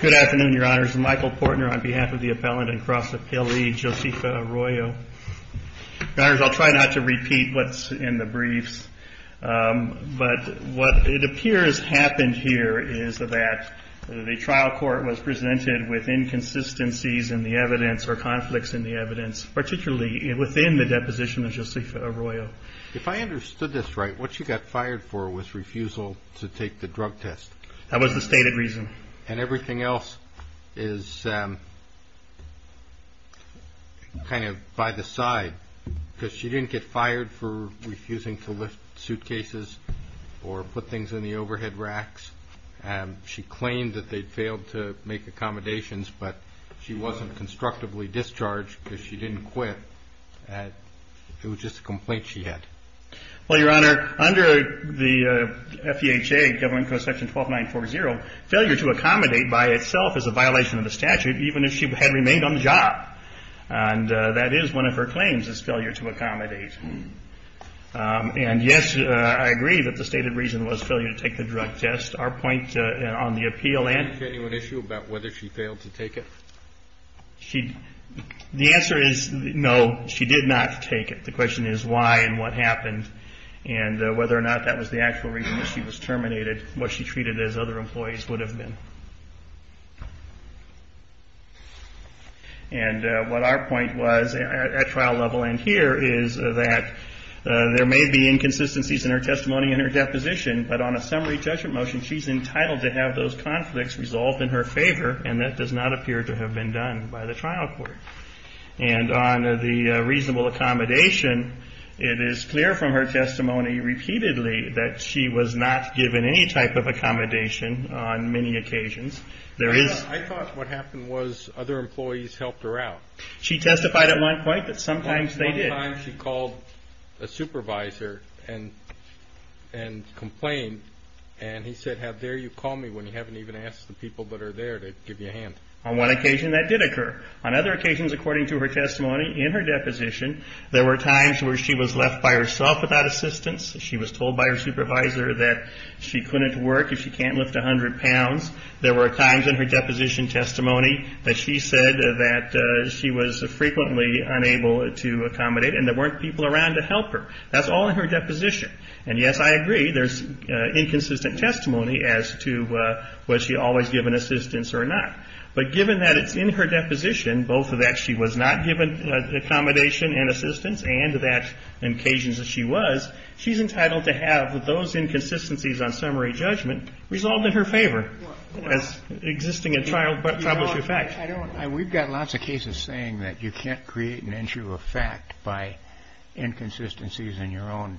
Good afternoon, your honors. Michael Portner on behalf of the appellant and cross appellee, Josefa Arroyo. Your honors, I'll try not to repeat what's in the briefs, but what it appears happened here is that the trial court was presented with inconsistencies in the evidence or conflicts in the evidence, particularly within the deposition of Josefa Arroyo. If I understood this right, what you got fired for was refusal to take the drug test. That was the stated reason. And everything else is kind of by the side, because she didn't get fired for refusing to lift suitcases or put things in the overhead racks. She claimed that they failed to make accommodations, but she wasn't constructively discharged because she didn't quit. It was just a complaint she had. Well, your honor, under the FEHA, Government Code Section 12940, failure to accommodate by itself is a violation of the statute, even if she had remained on the job. And that is one of her claims, is failure to accommodate. And yes, I agree that the stated reason was failure to take the drug test. Our point on the appeal and the genuine issue about whether she failed to take it. The answer is no, she did not take it. The question is why and what happened, and whether or not that was the actual reason she was terminated, what she treated as other employees would have been. And what our point was at trial level and here is that there may be inconsistencies in her testimony and her deposition, but on a summary judgment motion, she's entitled to have those conflicts resolved in her favor, and that does not appear to have been done by the trial court. And on the reasonable accommodation, it is clear from her testimony repeatedly that she was not given any type of accommodation on many occasions. I thought what happened was other employees helped her out. She testified at one point that sometimes they did. There was a time she called a supervisor and complained, and he said, how dare you call me when you haven't even asked the people that are there to give you a hand. On one occasion that did occur. On other occasions, according to her testimony in her deposition, there were times where she was left by herself without assistance. She was told by her supervisor that she couldn't work if she can't lift 100 pounds. There were times in her deposition testimony that she said that she was frequently unable to accommodate, and there weren't people around to help her. That's all in her deposition. And, yes, I agree, there's inconsistent testimony as to was she always given assistance or not. But given that it's in her deposition, both that she was not given accommodation and assistance, and that on occasions that she was, she's entitled to have those inconsistencies on summary judgment resolved in her favor. That's existing in trial, but troubleshoot facts. I don't know. We've got lots of cases saying that you can't create an issue of fact by inconsistencies in your own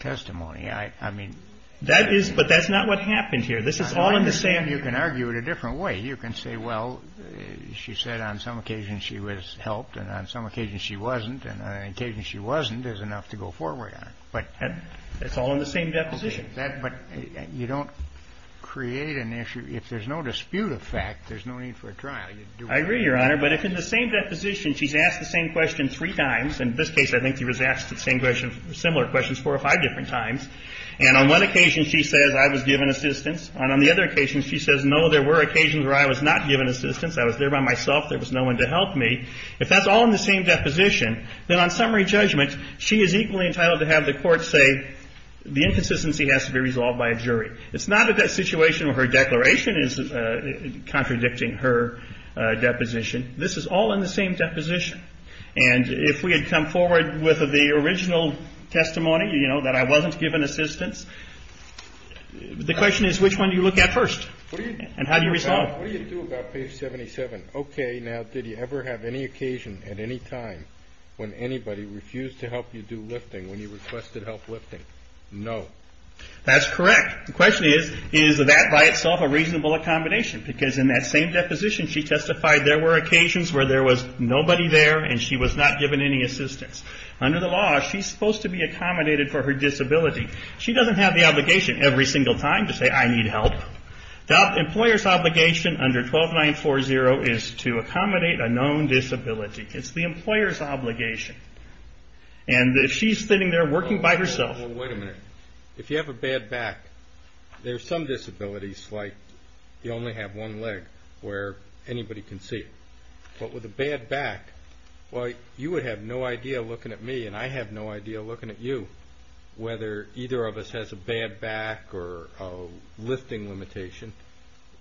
testimony. I mean, that is, but that's not what happened here. This is all in the same. You can argue it a different way. You can say, well, she said on some occasions she was helped, and on some occasions she wasn't. And on occasions she wasn't is enough to go forward on. But it's all in the same deposition. But you don't create an issue. If there's no dispute of fact, there's no need for a trial. I agree, Your Honor. But if in the same deposition she's asked the same question three times, in this case I think she was asked the same question, similar questions, four or five different times, and on one occasion she says I was given assistance, and on the other occasion she says, no, there were occasions where I was not given assistance, I was there by myself, there was no one to help me. If that's all in the same deposition, then on summary judgment, she is equally entitled to have the Court say the inconsistency has to be resolved by a jury. It's not that that situation of her declaration is contradicting her deposition. This is all in the same deposition. And if we had come forward with the original testimony, you know, that I wasn't given assistance, the question is, which one do you look at first, and how do you resolve it? What do you do about page 77? Okay, now, did you ever have any occasion at any time when anybody refused to help you do lifting, when you requested help lifting? No. That's correct. The question is, is that by itself a reasonable accommodation? Because in that same deposition, she testified there were occasions where there was nobody there, and she was not given any assistance. Under the law, she's supposed to be accommodated for her disability. She doesn't have the obligation every single time to say, I need help. The employer's obligation under 12940 is to accommodate a known disability. It's the employer's obligation. And she's sitting there working by herself. Wait a minute. If you have a bad back, there are some disabilities like you only have one leg where anybody can see it. But with a bad back, you would have no idea looking at me, and I have no idea looking at you, whether either of us has a bad back or a lifting limitation.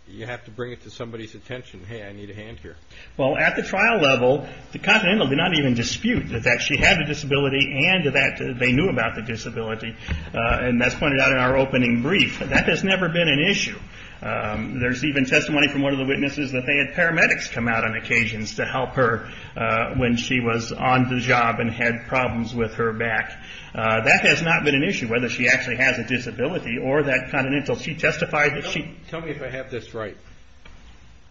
You have to bring it to somebody's attention. Hey, I need a hand here. Well, at the trial level, the Continental did not even dispute that she had a disability and that they knew about the disability, and that's pointed out in our opening brief. That has never been an issue. There's even testimony from one of the witnesses that they had paramedics come out on occasions to help her when she was on the job and had problems with her back. That has not been an issue, whether she actually has a disability or that Continental. She testified that she – Tell me if I have this right.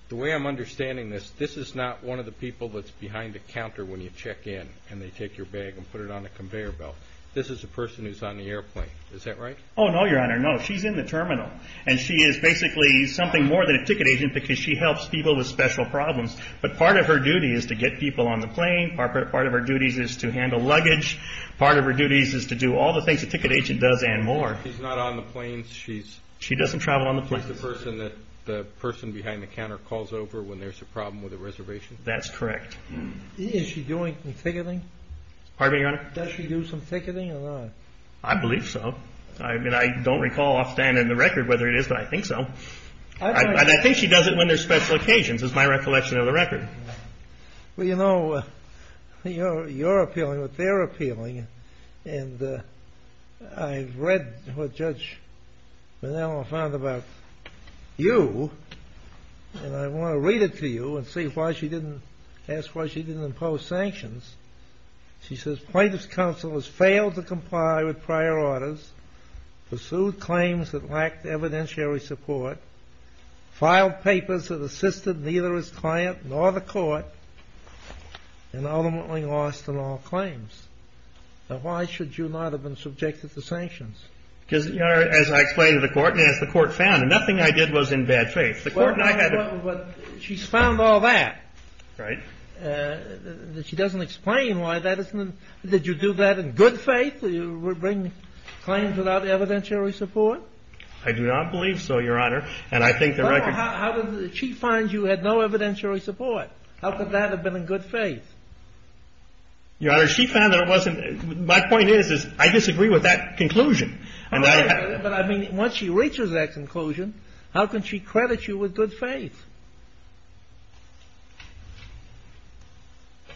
The way I'm understanding this, this is not one of the people that's behind the counter when you check in and they take your bag and put it on a conveyor belt. This is a person who's on the airplane. Is that right? Oh, no, Your Honor, no. She's in the terminal, and she is basically something more than a ticket agent because she helps people with special problems. But part of her duty is to get people on the plane. Part of her duty is to handle luggage. Part of her duty is to do all the things a ticket agent does and more. She's not on the plane. She's – She doesn't travel on the plane. She's the person that the person behind the counter calls over when there's a problem with a reservation. That's correct. Is she doing some ticketing? Pardon me, Your Honor? Does she do some ticketing or not? I believe so. I mean, I don't recall offhand in the record whether it is, but I think so. And I think she does it when there's special occasions is my recollection of the record. Well, you know, you're appealing what they're appealing, and I've read what Judge Manel found about you, and I want to read it to you and see why she didn't – ask why she didn't impose sanctions. She says, Plaintiff's counsel has failed to comply with prior orders, pursued claims that lacked evidentiary support, filed papers that assisted neither his client nor the court, and ultimately lost in all claims. Now, why should you not have been subjected to sanctions? Because, Your Honor, as I explained to the court, and as the court found, nothing I did was in bad faith. The court and I had – But she's found all that. Right. She doesn't explain why that isn't – did you do that in good faith? You were bringing claims without evidentiary support? I do not believe so, Your Honor. And I think the record – She finds you had no evidentiary support. How could that have been in good faith? Your Honor, she found that it wasn't – my point is, is I disagree with that conclusion. But I mean, once she reaches that conclusion, how can she credit you with good faith?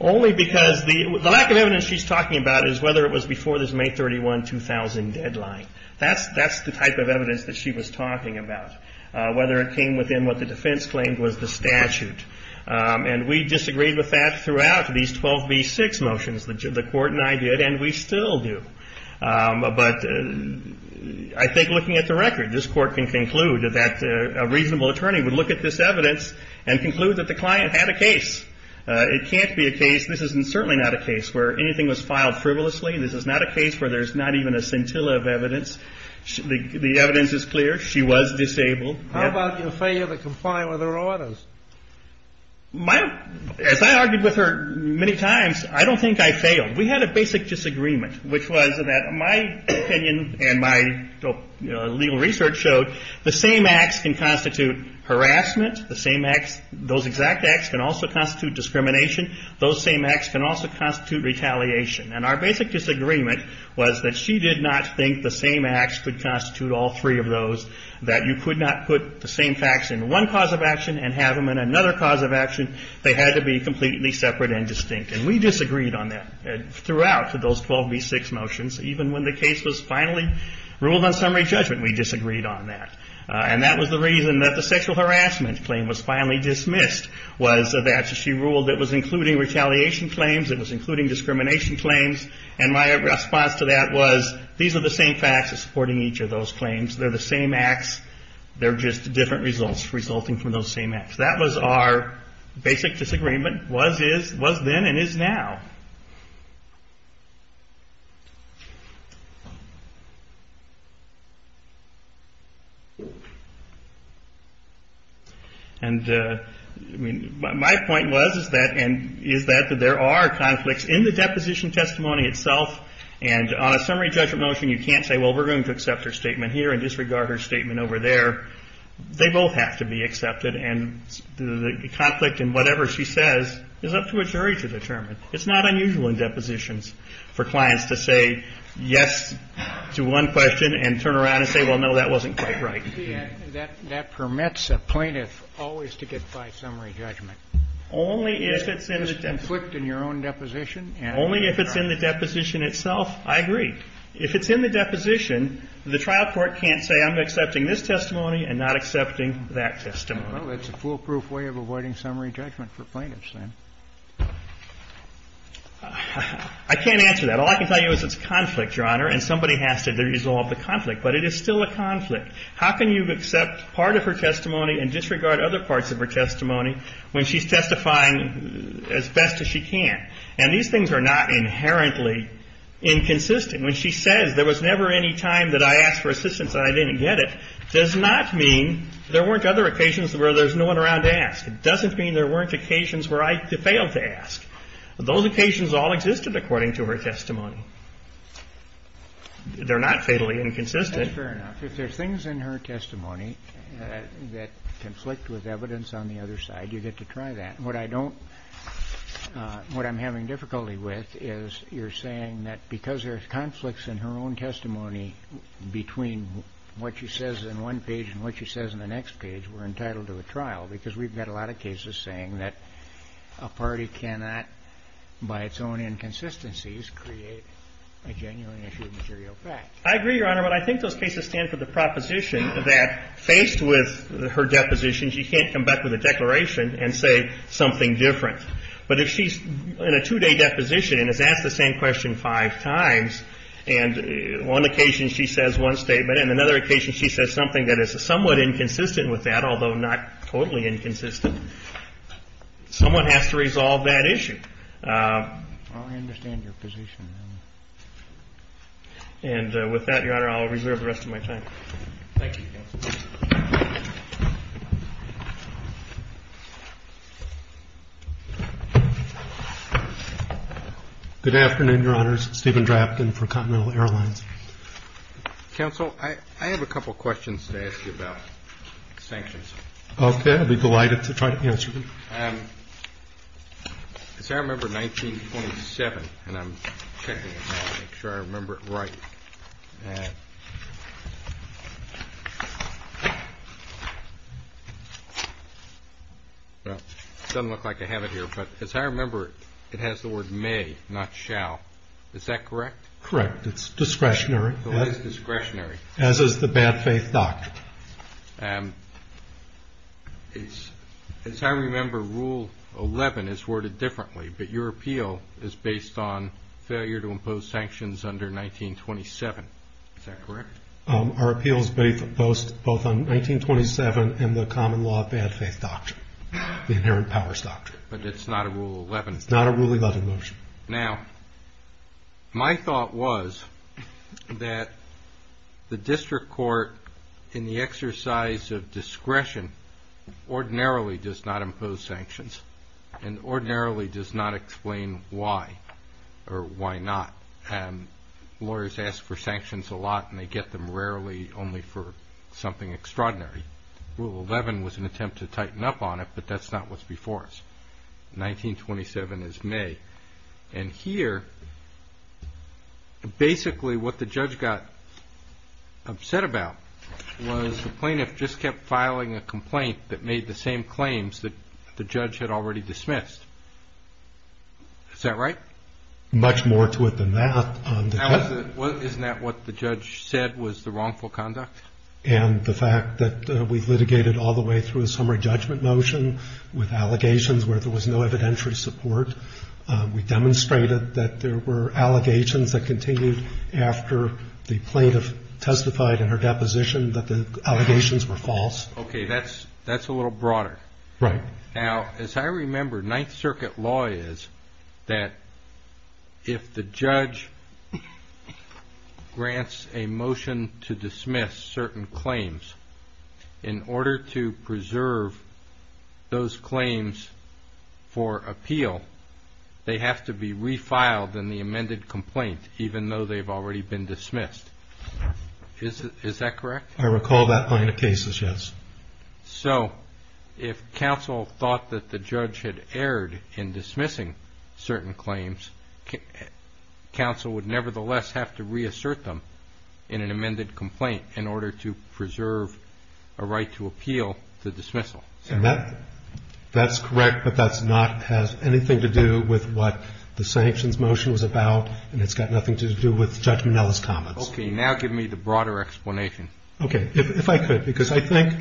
Only because the lack of evidence she's talking about is whether it was before this May 31, 2000 deadline. That's the type of evidence that she was talking about, whether it came within what the defense claimed was the statute. And we disagreed with that throughout these 12B6 motions. The court and I did, and we still do. But I think looking at the record, this court can conclude that a reasonable attorney would look at this evidence and conclude that the client had a case. It can't be a case – this is certainly not a case where anything was filed frivolously. This is not a case where there's not even a scintilla of evidence. The evidence is clear. She was disabled. How about your failure to comply with her orders? My – as I argued with her many times, I don't think I failed. We had a basic disagreement, which was that my opinion and my legal research showed the same acts can constitute harassment. The same acts – those exact acts can also constitute discrimination. Those same acts can also constitute retaliation. And our basic disagreement was that she did not think the same acts could constitute all three of those, that you could not put the same facts in one cause of action and have them in another cause of action. They had to be completely separate and distinct. And we disagreed on that throughout those 12B6 motions. Even when the case was finally ruled on summary judgment, we disagreed on that. And that was the reason that the sexual harassment claim was finally dismissed, was that she ruled it was including retaliation claims. It was including discrimination claims. And my response to that was, these are the same facts supporting each of those claims. They're the same acts. They're just different results resulting from those same acts. That was our basic disagreement. Was, is – was then and is now. And, I mean, my point was is that – and is that there are conflicts in the deposition testimony itself. And on a summary judgment motion, you can't say, well, we're going to accept her statement here and disregard her statement over there. They both have to be accepted. And the conflict in whatever she says is up to a jury to determine. It's up to the jury. It's not unusual in depositions for clients to say yes to one question and turn around and say, well, no, that wasn't quite right. That – that permits a plaintiff always to get by summary judgment. Only if it's in the – If there's conflict in your own deposition. Only if it's in the deposition itself, I agree. If it's in the deposition, the trial court can't say, I'm accepting this testimony and not accepting that testimony. Well, that's a foolproof way of avoiding summary judgment for plaintiffs then. I can't answer that. All I can tell you is it's conflict, Your Honor, and somebody has to resolve the conflict. But it is still a conflict. How can you accept part of her testimony and disregard other parts of her testimony when she's testifying as best as she can? And these things are not inherently inconsistent. When she says there was never any time that I asked for assistance and I didn't get it does not mean there weren't other occasions where there's no one around to ask. It doesn't mean there weren't occasions where I failed to ask. Those occasions all existed according to her testimony. They're not fatally inconsistent. That's fair enough. If there's things in her testimony that conflict with evidence on the other side, you get to try that. What I don't – what I'm having difficulty with is you're saying that because there's conflicts in her own testimony between what she says in one page and what she says in the next page, we're entitled to a trial because we've got a lot of cases saying that a party cannot, by its own inconsistencies, create a genuine issue of material facts. I agree, Your Honor, but I think those cases stand for the proposition that, faced with her deposition, she can't come back with a declaration and say something different. But if she's in a two-day deposition and has asked the same question five times, and one occasion she says one statement and another occasion she says something that is somewhat inconsistent with that, although not totally inconsistent, someone has to resolve that issue. I understand your position. And with that, Your Honor, I'll reserve the rest of my time. Thank you. Good afternoon, Your Honors. Stephen Draftkin for Continental Airlines. Counsel, I have a couple of questions to ask you about sanctions. Okay. I'd be delighted to try to answer them. Because I remember 1927, and I'm checking to make sure I remember it right. It doesn't look like I have it here, but as I remember it, it has the word may, not shall. Is that correct? Correct. It's discretionary. It is discretionary. As is the bad faith doctrine. As I remember, Rule 11 is worded differently, but your appeal is based on failure to impose sanctions under 1927. Is that correct? Our appeal is based both on 1927 and the common law of bad faith doctrine, the inherent powers doctrine. But it's not a Rule 11. It's not a Rule 11 motion. Now, my thought was that the district court, in the exercise of discretion, ordinarily does not impose sanctions and ordinarily does not explain why or why not. And lawyers ask for sanctions a lot, and they get them rarely, only for something extraordinary. Rule 11 was an attempt to tighten up on it, but that's not what's before us. 1927 is may. And here, basically, what the judge got upset about was the plaintiff just kept filing a complaint that made the same claims that the judge had already dismissed. Is that right? Much more to it than that. Isn't that what the judge said was the wrongful conduct? And the fact that we've litigated all the way through a summary judgment motion with allegations where there was no evidentiary support. We demonstrated that there were allegations that continued after the plaintiff testified in her deposition that the allegations were false. Okay, that's a little broader. Right. Now, as I remember, Ninth Circuit law is that if the judge grants a motion to dismiss certain claims, in order to preserve those claims for appeal, they have to be refiled in the amended complaint, even though they've already been dismissed. Is that correct? I recall that line of cases, yes. So if counsel thought that the judge had erred in dismissing certain claims, counsel would nevertheless have to reassert them in an amended complaint in order to preserve a right to appeal the dismissal. That's correct, but that's not has anything to do with what the sanctions motion was about, and it's got nothing to do with Judge Minnelli's comments. Okay, now give me the broader explanation. Okay, if I could, because I think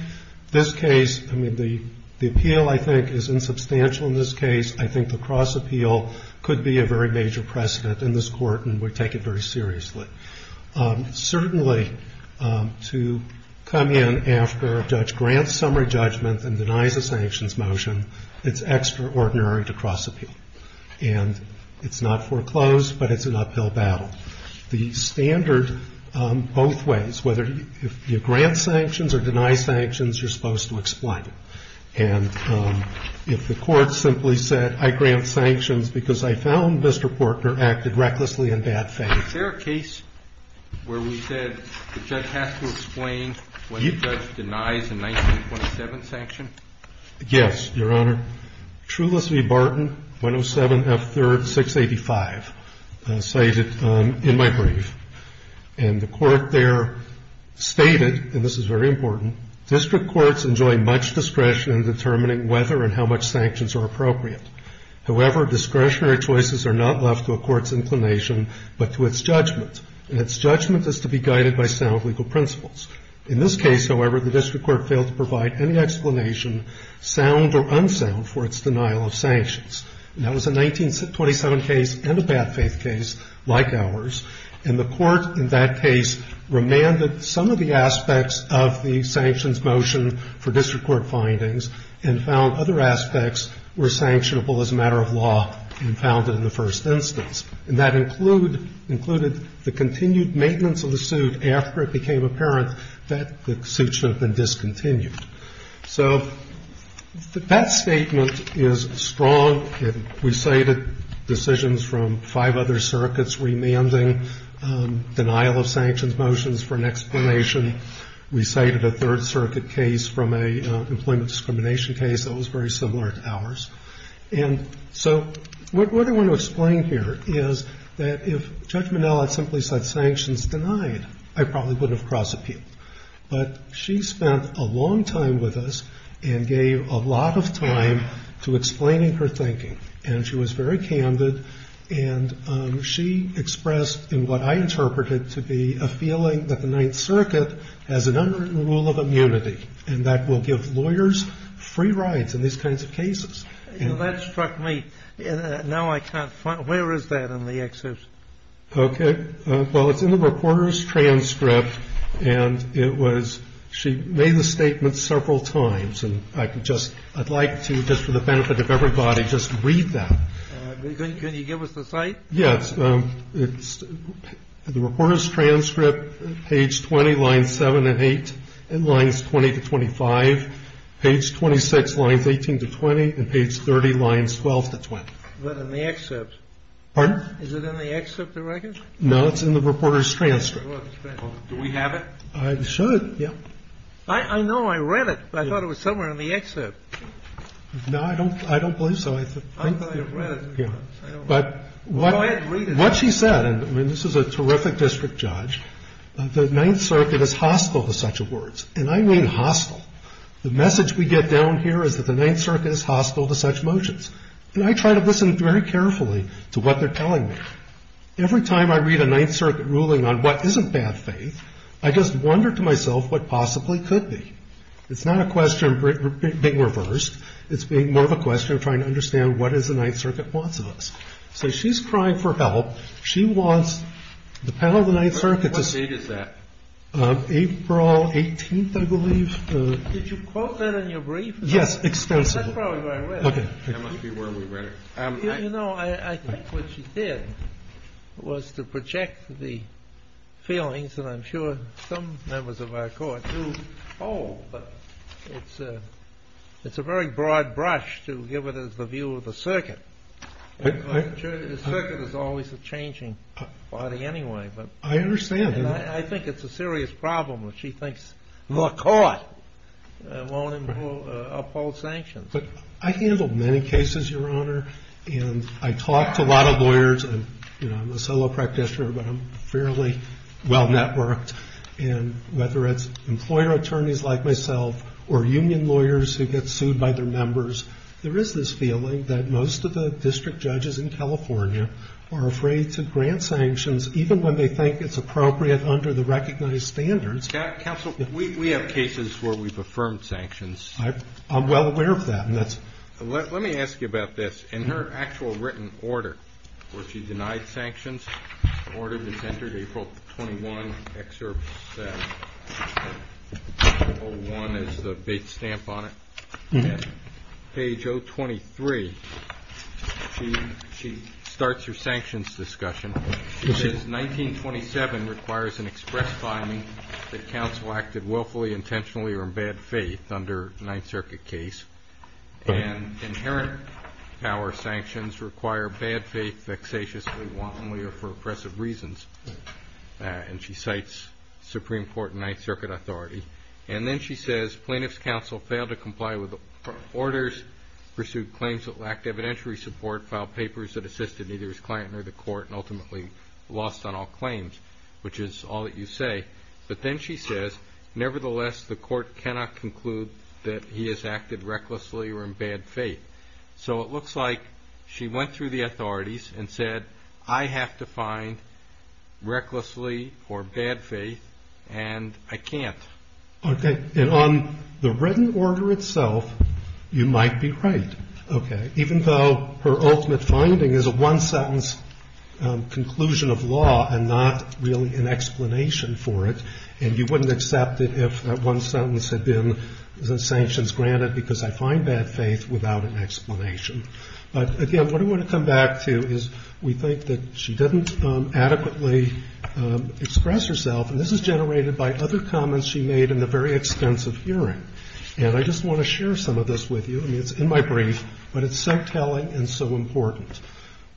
this case, I mean, the appeal I think is insubstantial in this case. I think the cross-appeal could be a very major precedent in this court, and we take it very seriously. Certainly, to come in after a judge grants summary judgment and denies a sanctions motion, it's extraordinary to cross-appeal. And it's not foreclosed, but it's an uphill battle. The standard both ways, whether you grant sanctions or deny sanctions, you're supposed to explain it. And if the court simply said, I grant sanctions because I found Mr. Portner acted recklessly in bad faith. Is there a case where we said the judge has to explain when the judge denies a 1927 sanction? Yes, Your Honor. The court there stated, and this is very important, district courts enjoy much discretion in determining whether and how much sanctions are appropriate. However, discretionary choices are not left to a court's inclination, but to its judgment. And its judgment is to be guided by sound legal principles. In this case, however, the district court failed to provide any explanation, sound or unsound, for its denial of sanctions. And that was a 1927 case and a bad faith case like ours. And the court in that case remanded some of the aspects of the sanctions motion for district court findings and found other aspects were sanctionable as a matter of law and found it in the first instance. And that included the continued maintenance of the suit after it became apparent that the suit should have been discontinued. So that statement is strong. We cited decisions from five other circuits remanding denial of sanctions motions for an explanation. We cited a Third Circuit case from an employment discrimination case that was very similar to ours. And so what I want to explain here is that if Judge Minnell had simply said sanctions denied, I probably wouldn't have crossed appeal. But she spent a long time with us and gave a lot of time to explaining her thinking. And she was very candid. And she expressed in what I interpreted to be a feeling that the Ninth Circuit has an unwritten rule of immunity and that will give lawyers free rides in these kinds of cases. And that struck me. Now I can't find it. Where is that in the excerpt? Okay. Well, it's in the reporter's transcript. And it was she made the statement several times. And I can just ‑‑ I'd like to, just for the benefit of everybody, just read that. Can you give us the site? Yes. The reporter's transcript, page 20, lines 7 and 8, and lines 20 to 25. Page 26, lines 18 to 20. And page 30, lines 12 to 20. Pardon? Is it in the excerpt of the record? No, it's in the reporter's transcript. Do we have it? I should. Yeah. I know. I read it, but I thought it was somewhere in the excerpt. No, I don't believe so. I thought I read it. Go ahead and read it. What she said, and this is a terrific district judge, the Ninth Circuit is hostile to such words. And I mean hostile. The message we get down here is that the Ninth Circuit is hostile to such motions. And I try to listen very carefully to what they're telling me. Every time I read a Ninth Circuit ruling on what isn't bad faith, I just wonder to myself what possibly could be. It's not a question being reversed. It's being more of a question of trying to understand what it is the Ninth Circuit wants of us. So she's crying for help. She wants the panel of the Ninth Circuit to see. What date is that? April 18th, I believe. Did you quote that in your brief? Yes, extensively. That's probably where I read it. Okay. That must be where we read it. You know, I think what she said was to project the feelings that I'm sure some members of our court do hold. But it's a very broad brush to give it as the view of the circuit. The circuit is always a changing body anyway. I understand. And I think it's a serious problem that she thinks the court won't uphold sanctions. But I handle many cases, Your Honor, and I talk to a lot of lawyers. I'm a solo practitioner, but I'm fairly well-networked. And whether it's employer attorneys like myself or union lawyers who get sued by their members, there is this feeling that most of the district judges in California are afraid to grant sanctions, even when they think it's appropriate under the recognized standards. Counsel, we have cases where we've affirmed sanctions. I'm well aware of that. Let me ask you about this. In her actual written order where she denied sanctions, the order that's entered, April 21, Excerpt 01, has the bait stamp on it. Page 023, she starts her sanctions discussion. She says 1927 requires an express finding that counsel acted willfully, intentionally, or in bad faith under Ninth Circuit case, and inherent power sanctions require bad faith vexatiously, willfully, or for oppressive reasons. And she cites Supreme Court and Ninth Circuit authority. And then she says plaintiff's counsel failed to comply with orders, pursued claims that lacked evidentiary support, filed papers that assisted neither his client nor the court, and ultimately lost on all claims, which is all that you say. But then she says, nevertheless, the court cannot conclude that he has acted recklessly or in bad faith. So it looks like she went through the authorities and said, I have to find recklessly or bad faith, and I can't. Okay. And on the written order itself, you might be right. Okay. Even though her ultimate finding is a one-sentence conclusion of law and not really an explanation for it, and you wouldn't accept it if that one sentence had been sanctions granted because I find bad faith without an explanation. But, again, what I want to come back to is we think that she didn't adequately express herself, and this is generated by other comments she made in the very extensive hearing. And I just want to share some of this with you. I mean, it's in my brief, but it's so telling and so important.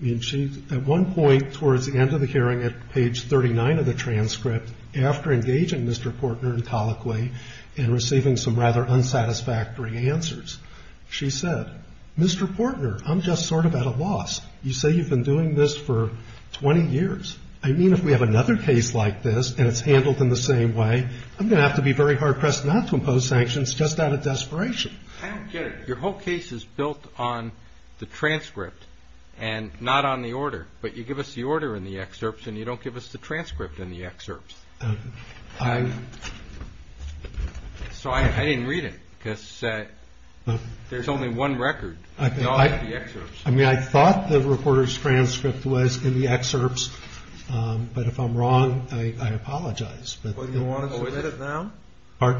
I mean, she, at one point towards the end of the hearing at page 39 of the transcript, after engaging Mr. Portner in colloquy and receiving some rather unsatisfactory answers, she said, Mr. Portner, I'm just sort of at a loss. You say you've been doing this for 20 years. I mean, if we have another case like this and it's handled in the same way, I'm going to have to be very hard-pressed not to impose sanctions just out of desperation. I don't get it. Your whole case is built on the transcript and not on the order, but you give us the order in the excerpts and you don't give us the transcript in the excerpts. So I didn't read it because there's only one record. I mean, I thought the reporter's transcript was in the excerpts, but if I'm wrong, I apologize. I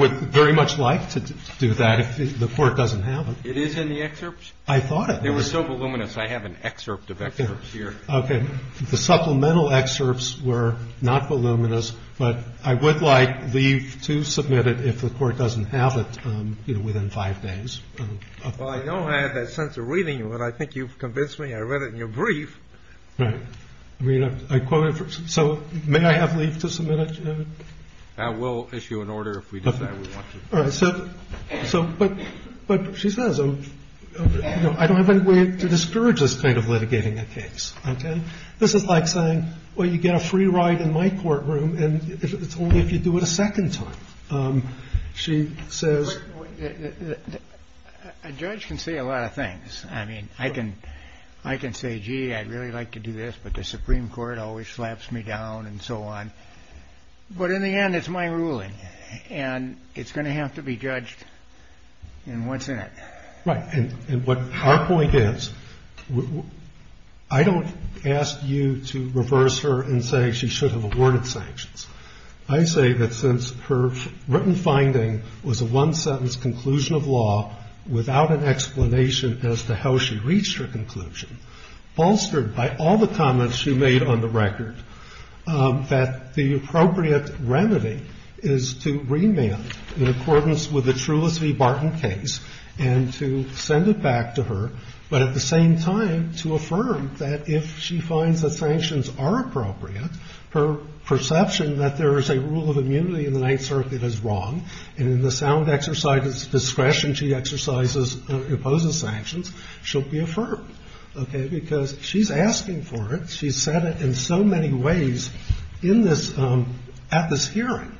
would very much like to do that if the Court doesn't have it. It is in the excerpts? I thought it was. They were so voluminous. I have an excerpt of excerpts here. Okay. The supplemental excerpts were not voluminous, but I would like leave to submit it if the Court doesn't have it, you know, within five days. Well, I know I had that sense of reading you, but I think you've convinced me I read it in your brief. Right. I mean, I quote it. So may I have leave to submit it? We'll issue an order if we decide we want to. All right. So but she says, you know, I don't have any way to discourage this kind of litigating a case. Okay. This is like saying, well, you get a free ride in my courtroom and it's only if you do it a second time, she says. A judge can say a lot of things. I mean, I can I can say, gee, I'd really like to do this, but the Supreme Court always slaps me down and so on. But in the end, it's my ruling and it's going to have to be judged. And what's in it? Right. And what our point is, I don't ask you to reverse her and say she should have awarded sanctions. I say that since her written finding was a one sentence conclusion of law without an explanation as to how she reached her conclusion, bolstered by all the comments she made on the record, that the appropriate remedy is to remand in accordance with the Trulis v. Barton case and to send it back to her, but at the same time to affirm that if she finds that sanctions are appropriate, her perception that there is a rule of immunity in the Ninth Circuit is wrong. And in the sound exercise of discretion, she exercises and opposes sanctions should be affirmed. OK, because she's asking for it. She said it in so many ways in this at this hearing.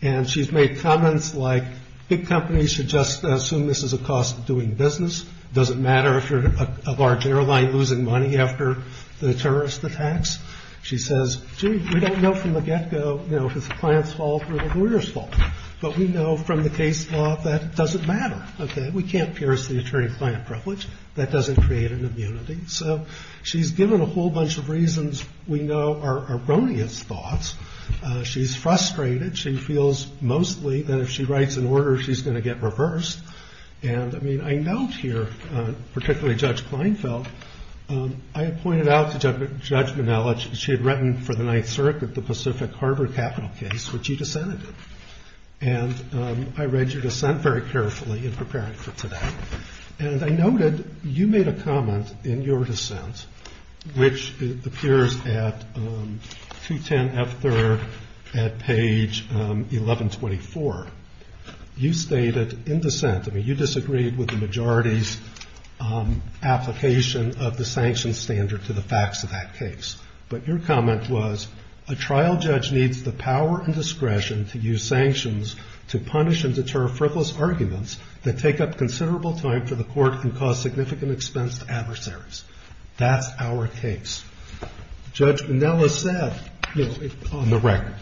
And she's made comments like big companies should just assume this is a cost of doing business. Doesn't matter if you're a large airline losing money after the terrorist attacks. She says, gee, we don't know from the get go if it's the client's fault or the lawyer's fault. But we know from the case law that it doesn't matter. OK, we can't pierce the attorney client privilege. That doesn't create an immunity. So she's given a whole bunch of reasons we know are erroneous thoughts. She's frustrated. She feels mostly that if she writes an order, she's going to get reversed. And I mean, I note here, particularly Judge Kleinfeld, I pointed out to Judge Menele, she had written for the Ninth Circuit, the Pacific Harbor capital case, which she dissented. And I read your dissent very carefully in preparing for today. And I noted you made a comment in your dissent, which appears at 210 F. I mean, you disagreed with the majority's application of the sanctions standard to the facts of that case. But your comment was a trial judge needs the power and discretion to use sanctions to punish and deter frivolous arguments that take up considerable time for the court and cause significant expense to adversaries. That's our case. Judge Menele said on the record,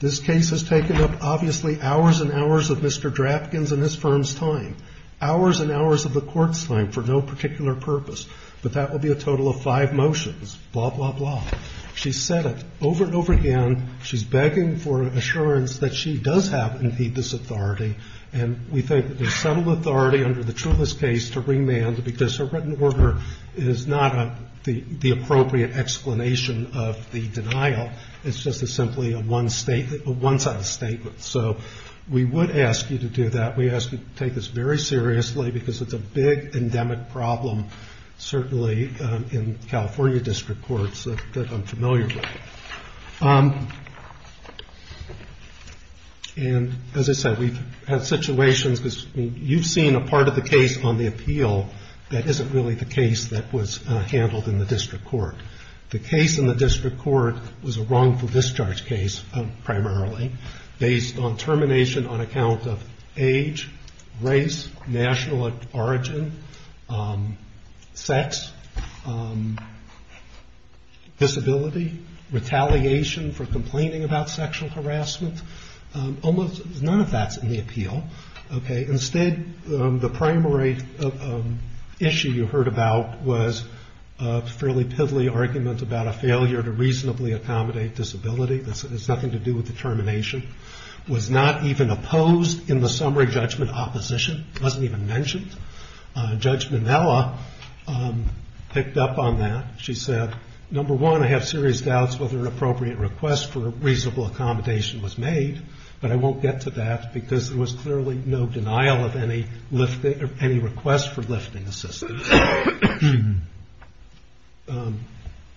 This case has taken up, obviously, hours and hours of Mr. Draftkin's and his firm's time, hours and hours of the court's time for no particular purpose. But that will be a total of five motions, blah, blah, blah. She said it over and over again. She's begging for assurance that she does have, indeed, this authority. And we think there's some authority under the Trulis case to remand, because her written order is not the appropriate explanation of the denial. It's just simply a one-sided statement. So we would ask you to do that. We ask you to take this very seriously, because it's a big endemic problem, certainly in California district courts that I'm familiar with. And as I said, we've had situations, because you've seen a part of the case on the appeal that isn't really the case that was handled in the district court. The case in the district court was a wrongful discharge case, primarily, based on termination on account of age, race, national origin, sex, disability, retaliation for complaining about sexual harassment. Almost none of that's in the appeal. Instead, the primary issue you heard about was a fairly piddly argument about a failure to reasonably accommodate disability. This has nothing to do with the termination. It was not even opposed in the summary judgment opposition. It wasn't even mentioned. Judge Minella picked up on that. She said, number one, I have serious doubts whether an appropriate request for reasonable accommodation was made, but I won't get to that, because there was clearly no denial of any request for lifting assistance.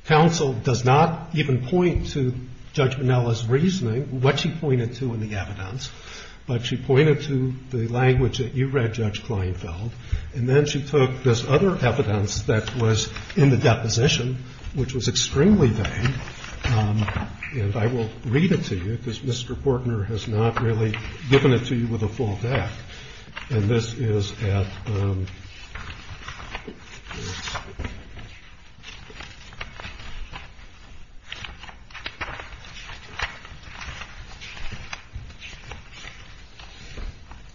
Counsel does not even point to Judge Minella's reasoning, what she pointed to in the evidence, but she pointed to the language that you read, Judge Kleinfeld, and then she took this other evidence that was in the deposition, which was extremely vague. And I will read it to you, because Mr. Portner has not really given it to you with a full deck. And this is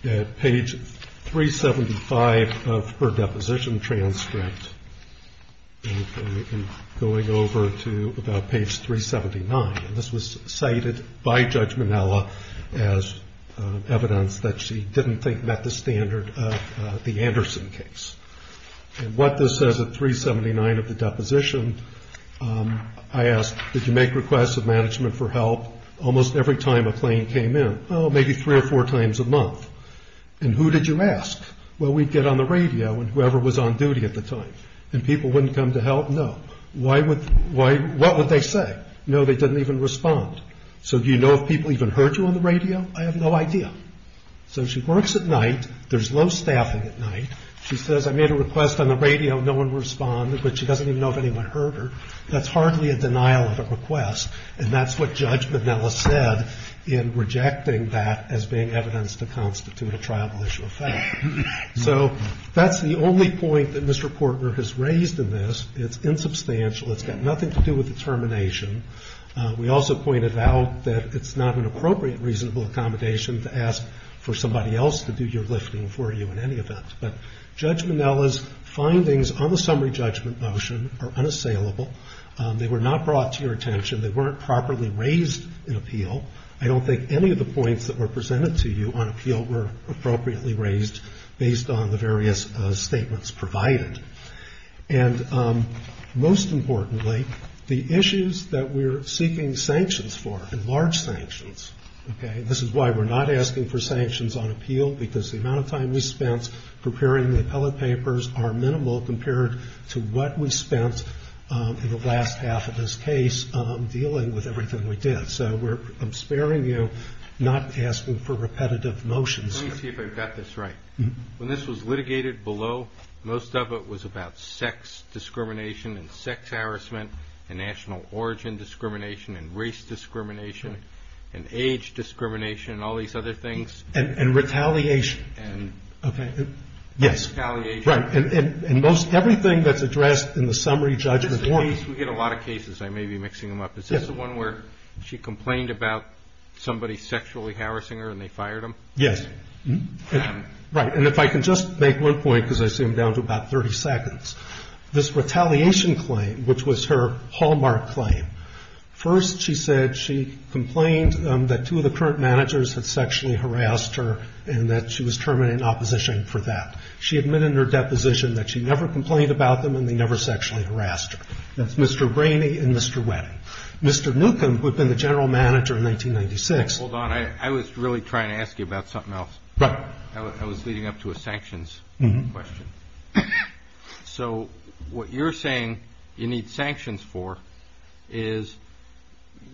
at page 375 of her deposition transcript. And going over to about page 379, and this was cited by Judge Minella as evidence that she didn't think met the standard of the Anderson case. And what this says at 379 of the deposition, I asked, did you make requests of management for help almost every time a claim came in? Well, maybe three or four times a month. And who did you ask? Well, we'd get on the radio, and whoever was on duty at the time. And people wouldn't come to help? No. What would they say? No, they didn't even respond. So do you know if people even heard you on the radio? I have no idea. So she works at night. There's low staffing at night. She says, I made a request on the radio. No one responded. But she doesn't even know if anyone heard her. That's hardly a denial of a request. And that's what Judge Minella said in rejecting that as being evidence to constitute a triable issue of fact. So that's the only point that Mr. Portner has raised in this. It's insubstantial. It's got nothing to do with the termination. We also pointed out that it's not an appropriate reasonable accommodation to ask for somebody else to do your lifting for you in any event. But Judge Minella's findings on the summary judgment motion are unassailable. They were not brought to your attention. They weren't properly raised in appeal. I don't think any of the points that were presented to you on appeal were appropriately raised based on the various statements provided. And most importantly, the issues that we're seeking sanctions for, and large sanctions, okay, this is why we're not asking for sanctions on appeal, because the amount of time we spent preparing the appellate papers are minimal compared to what we spent in the last half of this case dealing with everything we did. So I'm sparing you not asking for repetitive motions. Let me see if I've got this right. When this was litigated below, most of it was about sex discrimination and sex harassment and national origin discrimination and race discrimination and age discrimination and all these other things. And retaliation. And retaliation. Right. And everything that's addressed in the summary judgment motion. We get a lot of cases. I may be mixing them up. Is this the one where she complained about somebody sexually harassing her and they fired him? Yes. Right. And if I can just make one point, because I see I'm down to about 30 seconds. This retaliation claim, which was her hallmark claim, first she said she complained that two of the current managers had sexually harassed her and that she was terminating opposition for that. She admitted in her deposition that she never complained about them and they never sexually harassed her. That's Mr. Brainy and Mr. Wedding. Mr. Newcomb, who had been the general manager in 1996. Hold on. I was really trying to ask you about something else. Right. I was leading up to a sanctions question. So what you're saying you need sanctions for is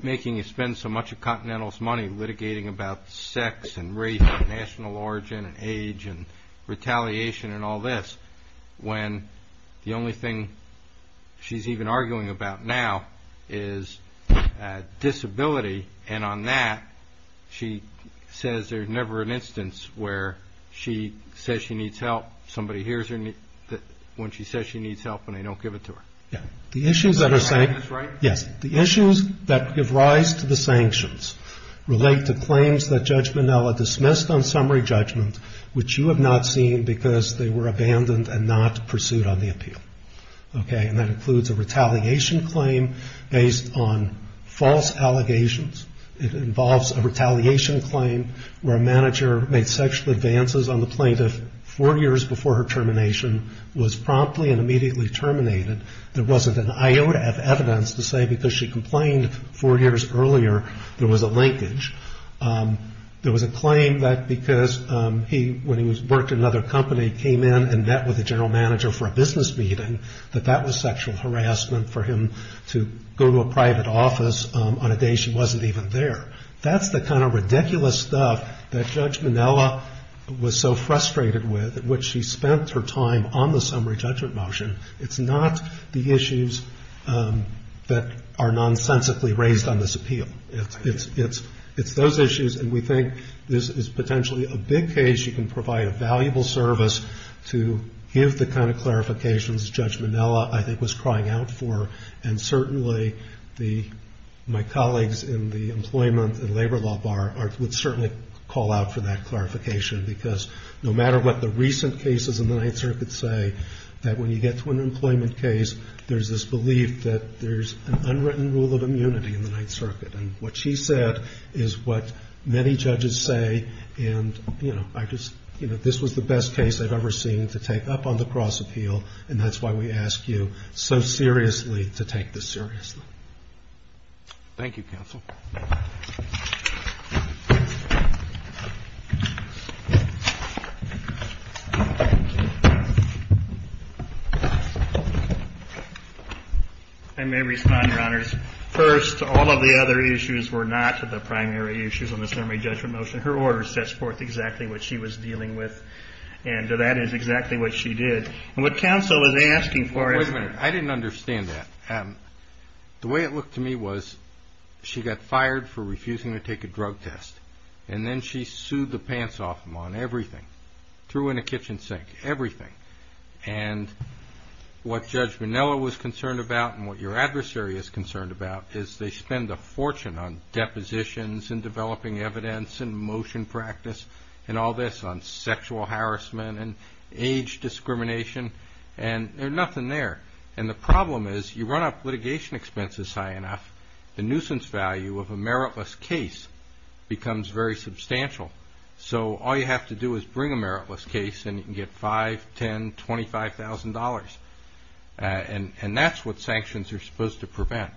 making you spend so much of Continental's money litigating about sex and race and national origin and age and retaliation and all this when the only thing she's even arguing about now is disability. And on that she says there's never an instance where she says she needs help. Somebody hears her when she says she needs help and they don't give it to her. Yes. The issues that give rise to the sanctions relate to claims that Judge Minnella dismissed on summary judgment, which you have not seen because they were abandoned and not pursued on the appeal. Okay. And that includes a retaliation claim based on false allegations. It involves a retaliation claim where a manager made sexual advances on the plaintiff four years before her termination, was promptly and immediately terminated. There wasn't an iota of evidence to say because she complained four years earlier there was a linkage. There was a claim that because he, when he worked in another company, came in and met with the general manager for a business meeting, that that was sexual harassment for him to go to a private office on a day she wasn't even there. That's the kind of ridiculous stuff that Judge Minnella was so frustrated with, which she spent her time on the summary judgment motion. It's not the issues that are nonsensically raised on this appeal. It's those issues. And we think this is potentially a big case. You can provide a valuable service to give the kind of clarifications Judge Minnella, I think, was crying out for. And certainly my colleagues in the employment and labor law bar would certainly call out for that clarification. Because no matter what the recent cases in the Ninth Circuit say, that when you get to an employment case, there's this belief that there's an unwritten rule of immunity in the Ninth Circuit. And what she said is what many judges say. And, you know, this was the best case I've ever seen to take up on the cross appeal. And that's why we ask you so seriously to take this seriously. Thank you, Counsel. I may respond, Your Honors. First, all of the other issues were not the primary issues on the summary judgment motion. Her order sets forth exactly what she was dealing with. And that is exactly what she did. And what counsel is asking for is- Wait a minute. I didn't understand that. The way it looked to me was she got fired for refusing to take a drug test. And then she sued the pants off him on everything. Threw him in a kitchen sink. Everything. And what Judge Minnella was concerned about and what your adversary is concerned about is they spend a fortune on depositions and developing evidence and motion practice and all this on sexual harassment and age discrimination. And there's nothing there. And the problem is you run up litigation expenses high enough, the nuisance value of a meritless case becomes very substantial. So all you have to do is bring a meritless case and you can get $5,000, $10,000, $25,000.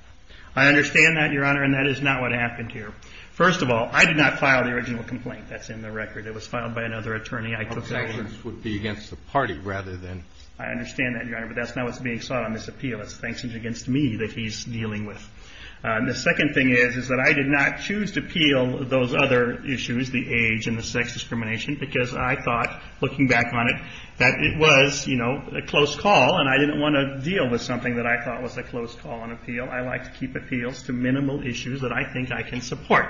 I understand that, Your Honor, and that is not what happened here. First of all, I did not file the original complaint. That's in the record. It was filed by another attorney I took over. Objections would be against the party rather than- I understand that, Your Honor. But that's not what's being sought on this appeal. It's objections against me that he's dealing with. The second thing is, is that I did not choose to appeal those other issues, the age and the sex discrimination, because I thought, looking back on it, that it was, you know, a close call. And I didn't want to deal with something that I thought was a close call on appeal. I like to keep appeals to minimal issues that I think I can support.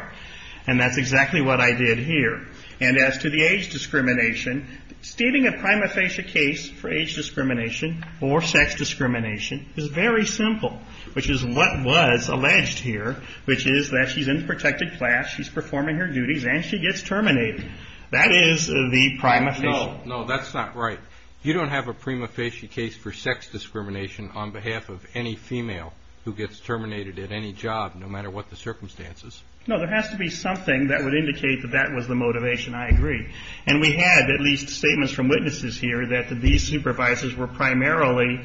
And that's exactly what I did here. And as to the age discrimination, stating a prima facie case for age discrimination or sex discrimination is very simple, which is what was alleged here, which is that she's in protected class, she's performing her duties, and she gets terminated. That is the prima facie. No, no, that's not right. You don't have a prima facie case for sex discrimination on behalf of any female who gets terminated at any job, no matter what the circumstances. No, there has to be something that would indicate that that was the motivation. I agree. And we had at least statements from witnesses here that these supervisors were primarily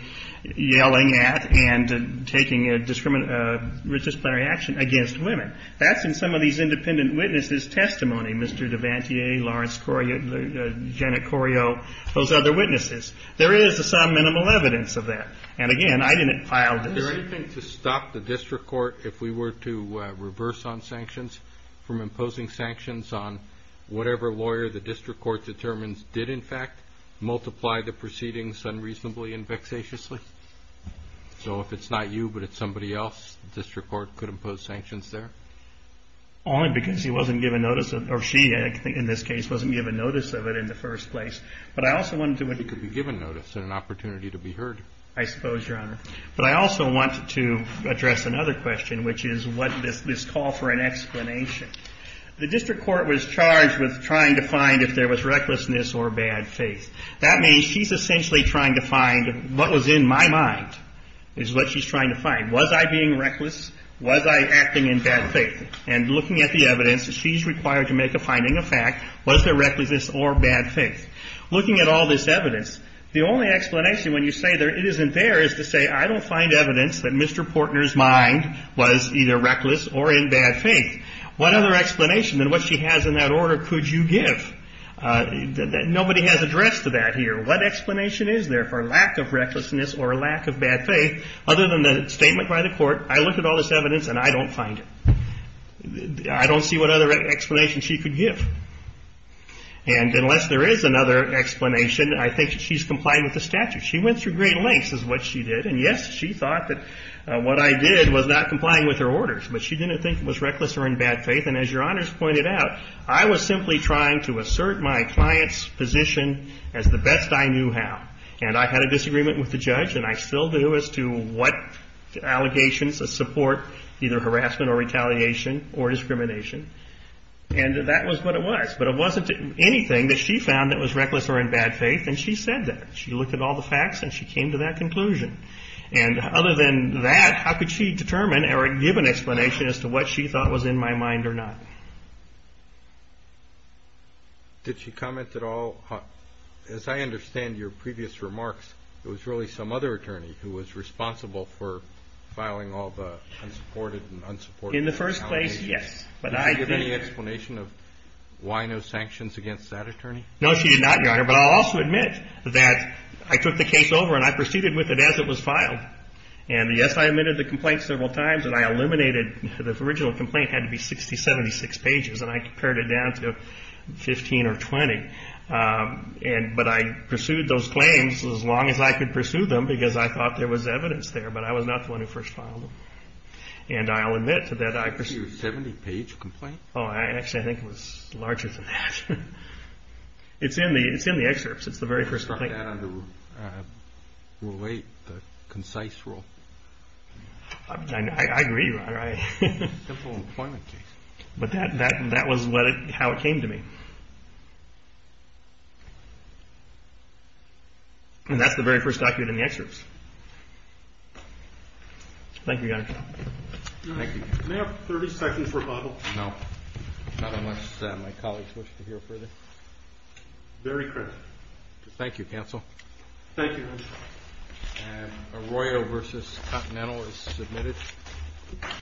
yelling at and taking a discriminatory action against women. That's in some of these independent witnesses' testimony, Mr. Devantier, Lawrence Corio, Janet Corio, those other witnesses. There is some minimal evidence of that. And, again, I didn't file this. Is there anything to stop the district court, if we were to reverse on sanctions, from imposing sanctions on whatever lawyer the district court determines did, in fact, multiply the proceedings unreasonably and vexatiously? So if it's not you, but it's somebody else, the district court could impose sanctions there? Only because he wasn't given notice of it, or she, in this case, wasn't given notice of it in the first place. But I also wanted to— She could be given notice and an opportunity to be heard. I suppose, Your Honor. But I also wanted to address another question, which is this call for an explanation. The district court was charged with trying to find if there was recklessness or bad faith. That means she's essentially trying to find what was in my mind, is what she's trying to find. Was I being reckless? Was I acting in bad faith? And looking at the evidence, she's required to make a finding of fact. Was there recklessness or bad faith? Looking at all this evidence, the only explanation, when you say it isn't there, is to say, I don't find evidence that Mr. Portner's mind was either reckless or in bad faith. What other explanation than what she has in that order could you give? Nobody has addressed that here. What explanation is there for lack of recklessness or lack of bad faith, other than the statement by the court, I looked at all this evidence and I don't find it. I don't see what other explanation she could give. And unless there is another explanation, I think she's complying with the statute. She went through great lengths, is what she did. And, yes, she thought that what I did was not complying with her orders. But she didn't think it was reckless or in bad faith. And as Your Honors pointed out, I was simply trying to assert my client's position as the best I knew how. And I had a disagreement with the judge, and I still do, as to what allegations support either harassment or retaliation or discrimination. And that was what it was. But it wasn't anything that she found that was reckless or in bad faith, and she said that. She looked at all the facts and she came to that conclusion. And other than that, how could she determine or give an explanation as to what she thought was in my mind or not? Did she comment at all? As I understand your previous remarks, it was really some other attorney who was responsible for filing all the unsupported and unsupported allegations. In the first place, yes. Did she give any explanation of why no sanctions against that attorney? No, she did not, Your Honor. But I'll also admit that I took the case over and I proceeded with it as it was filed. And, yes, I admitted the complaint several times, and I eliminated the original complaint. It had to be 60, 76 pages, and I compared it down to 15 or 20. But I pursued those claims as long as I could pursue them because I thought there was evidence there. But I was not the one who first filed them. And I'll admit to that I pursued. Was it a 70-page complaint? Oh, actually, I think it was larger than that. It's in the excerpts. It's the very first document. I'll take that under Rule 8, the concise rule. I agree, Your Honor. Simple employment case. But that was how it came to me. And that's the very first document in the excerpts. Thank you, Your Honor. Thank you. May I have 30 seconds for a Bible? No. Not unless my colleagues wish to hear further. Very quickly. Thank you, counsel. Thank you, Your Honor. And Arroyo v. Continental is submitted.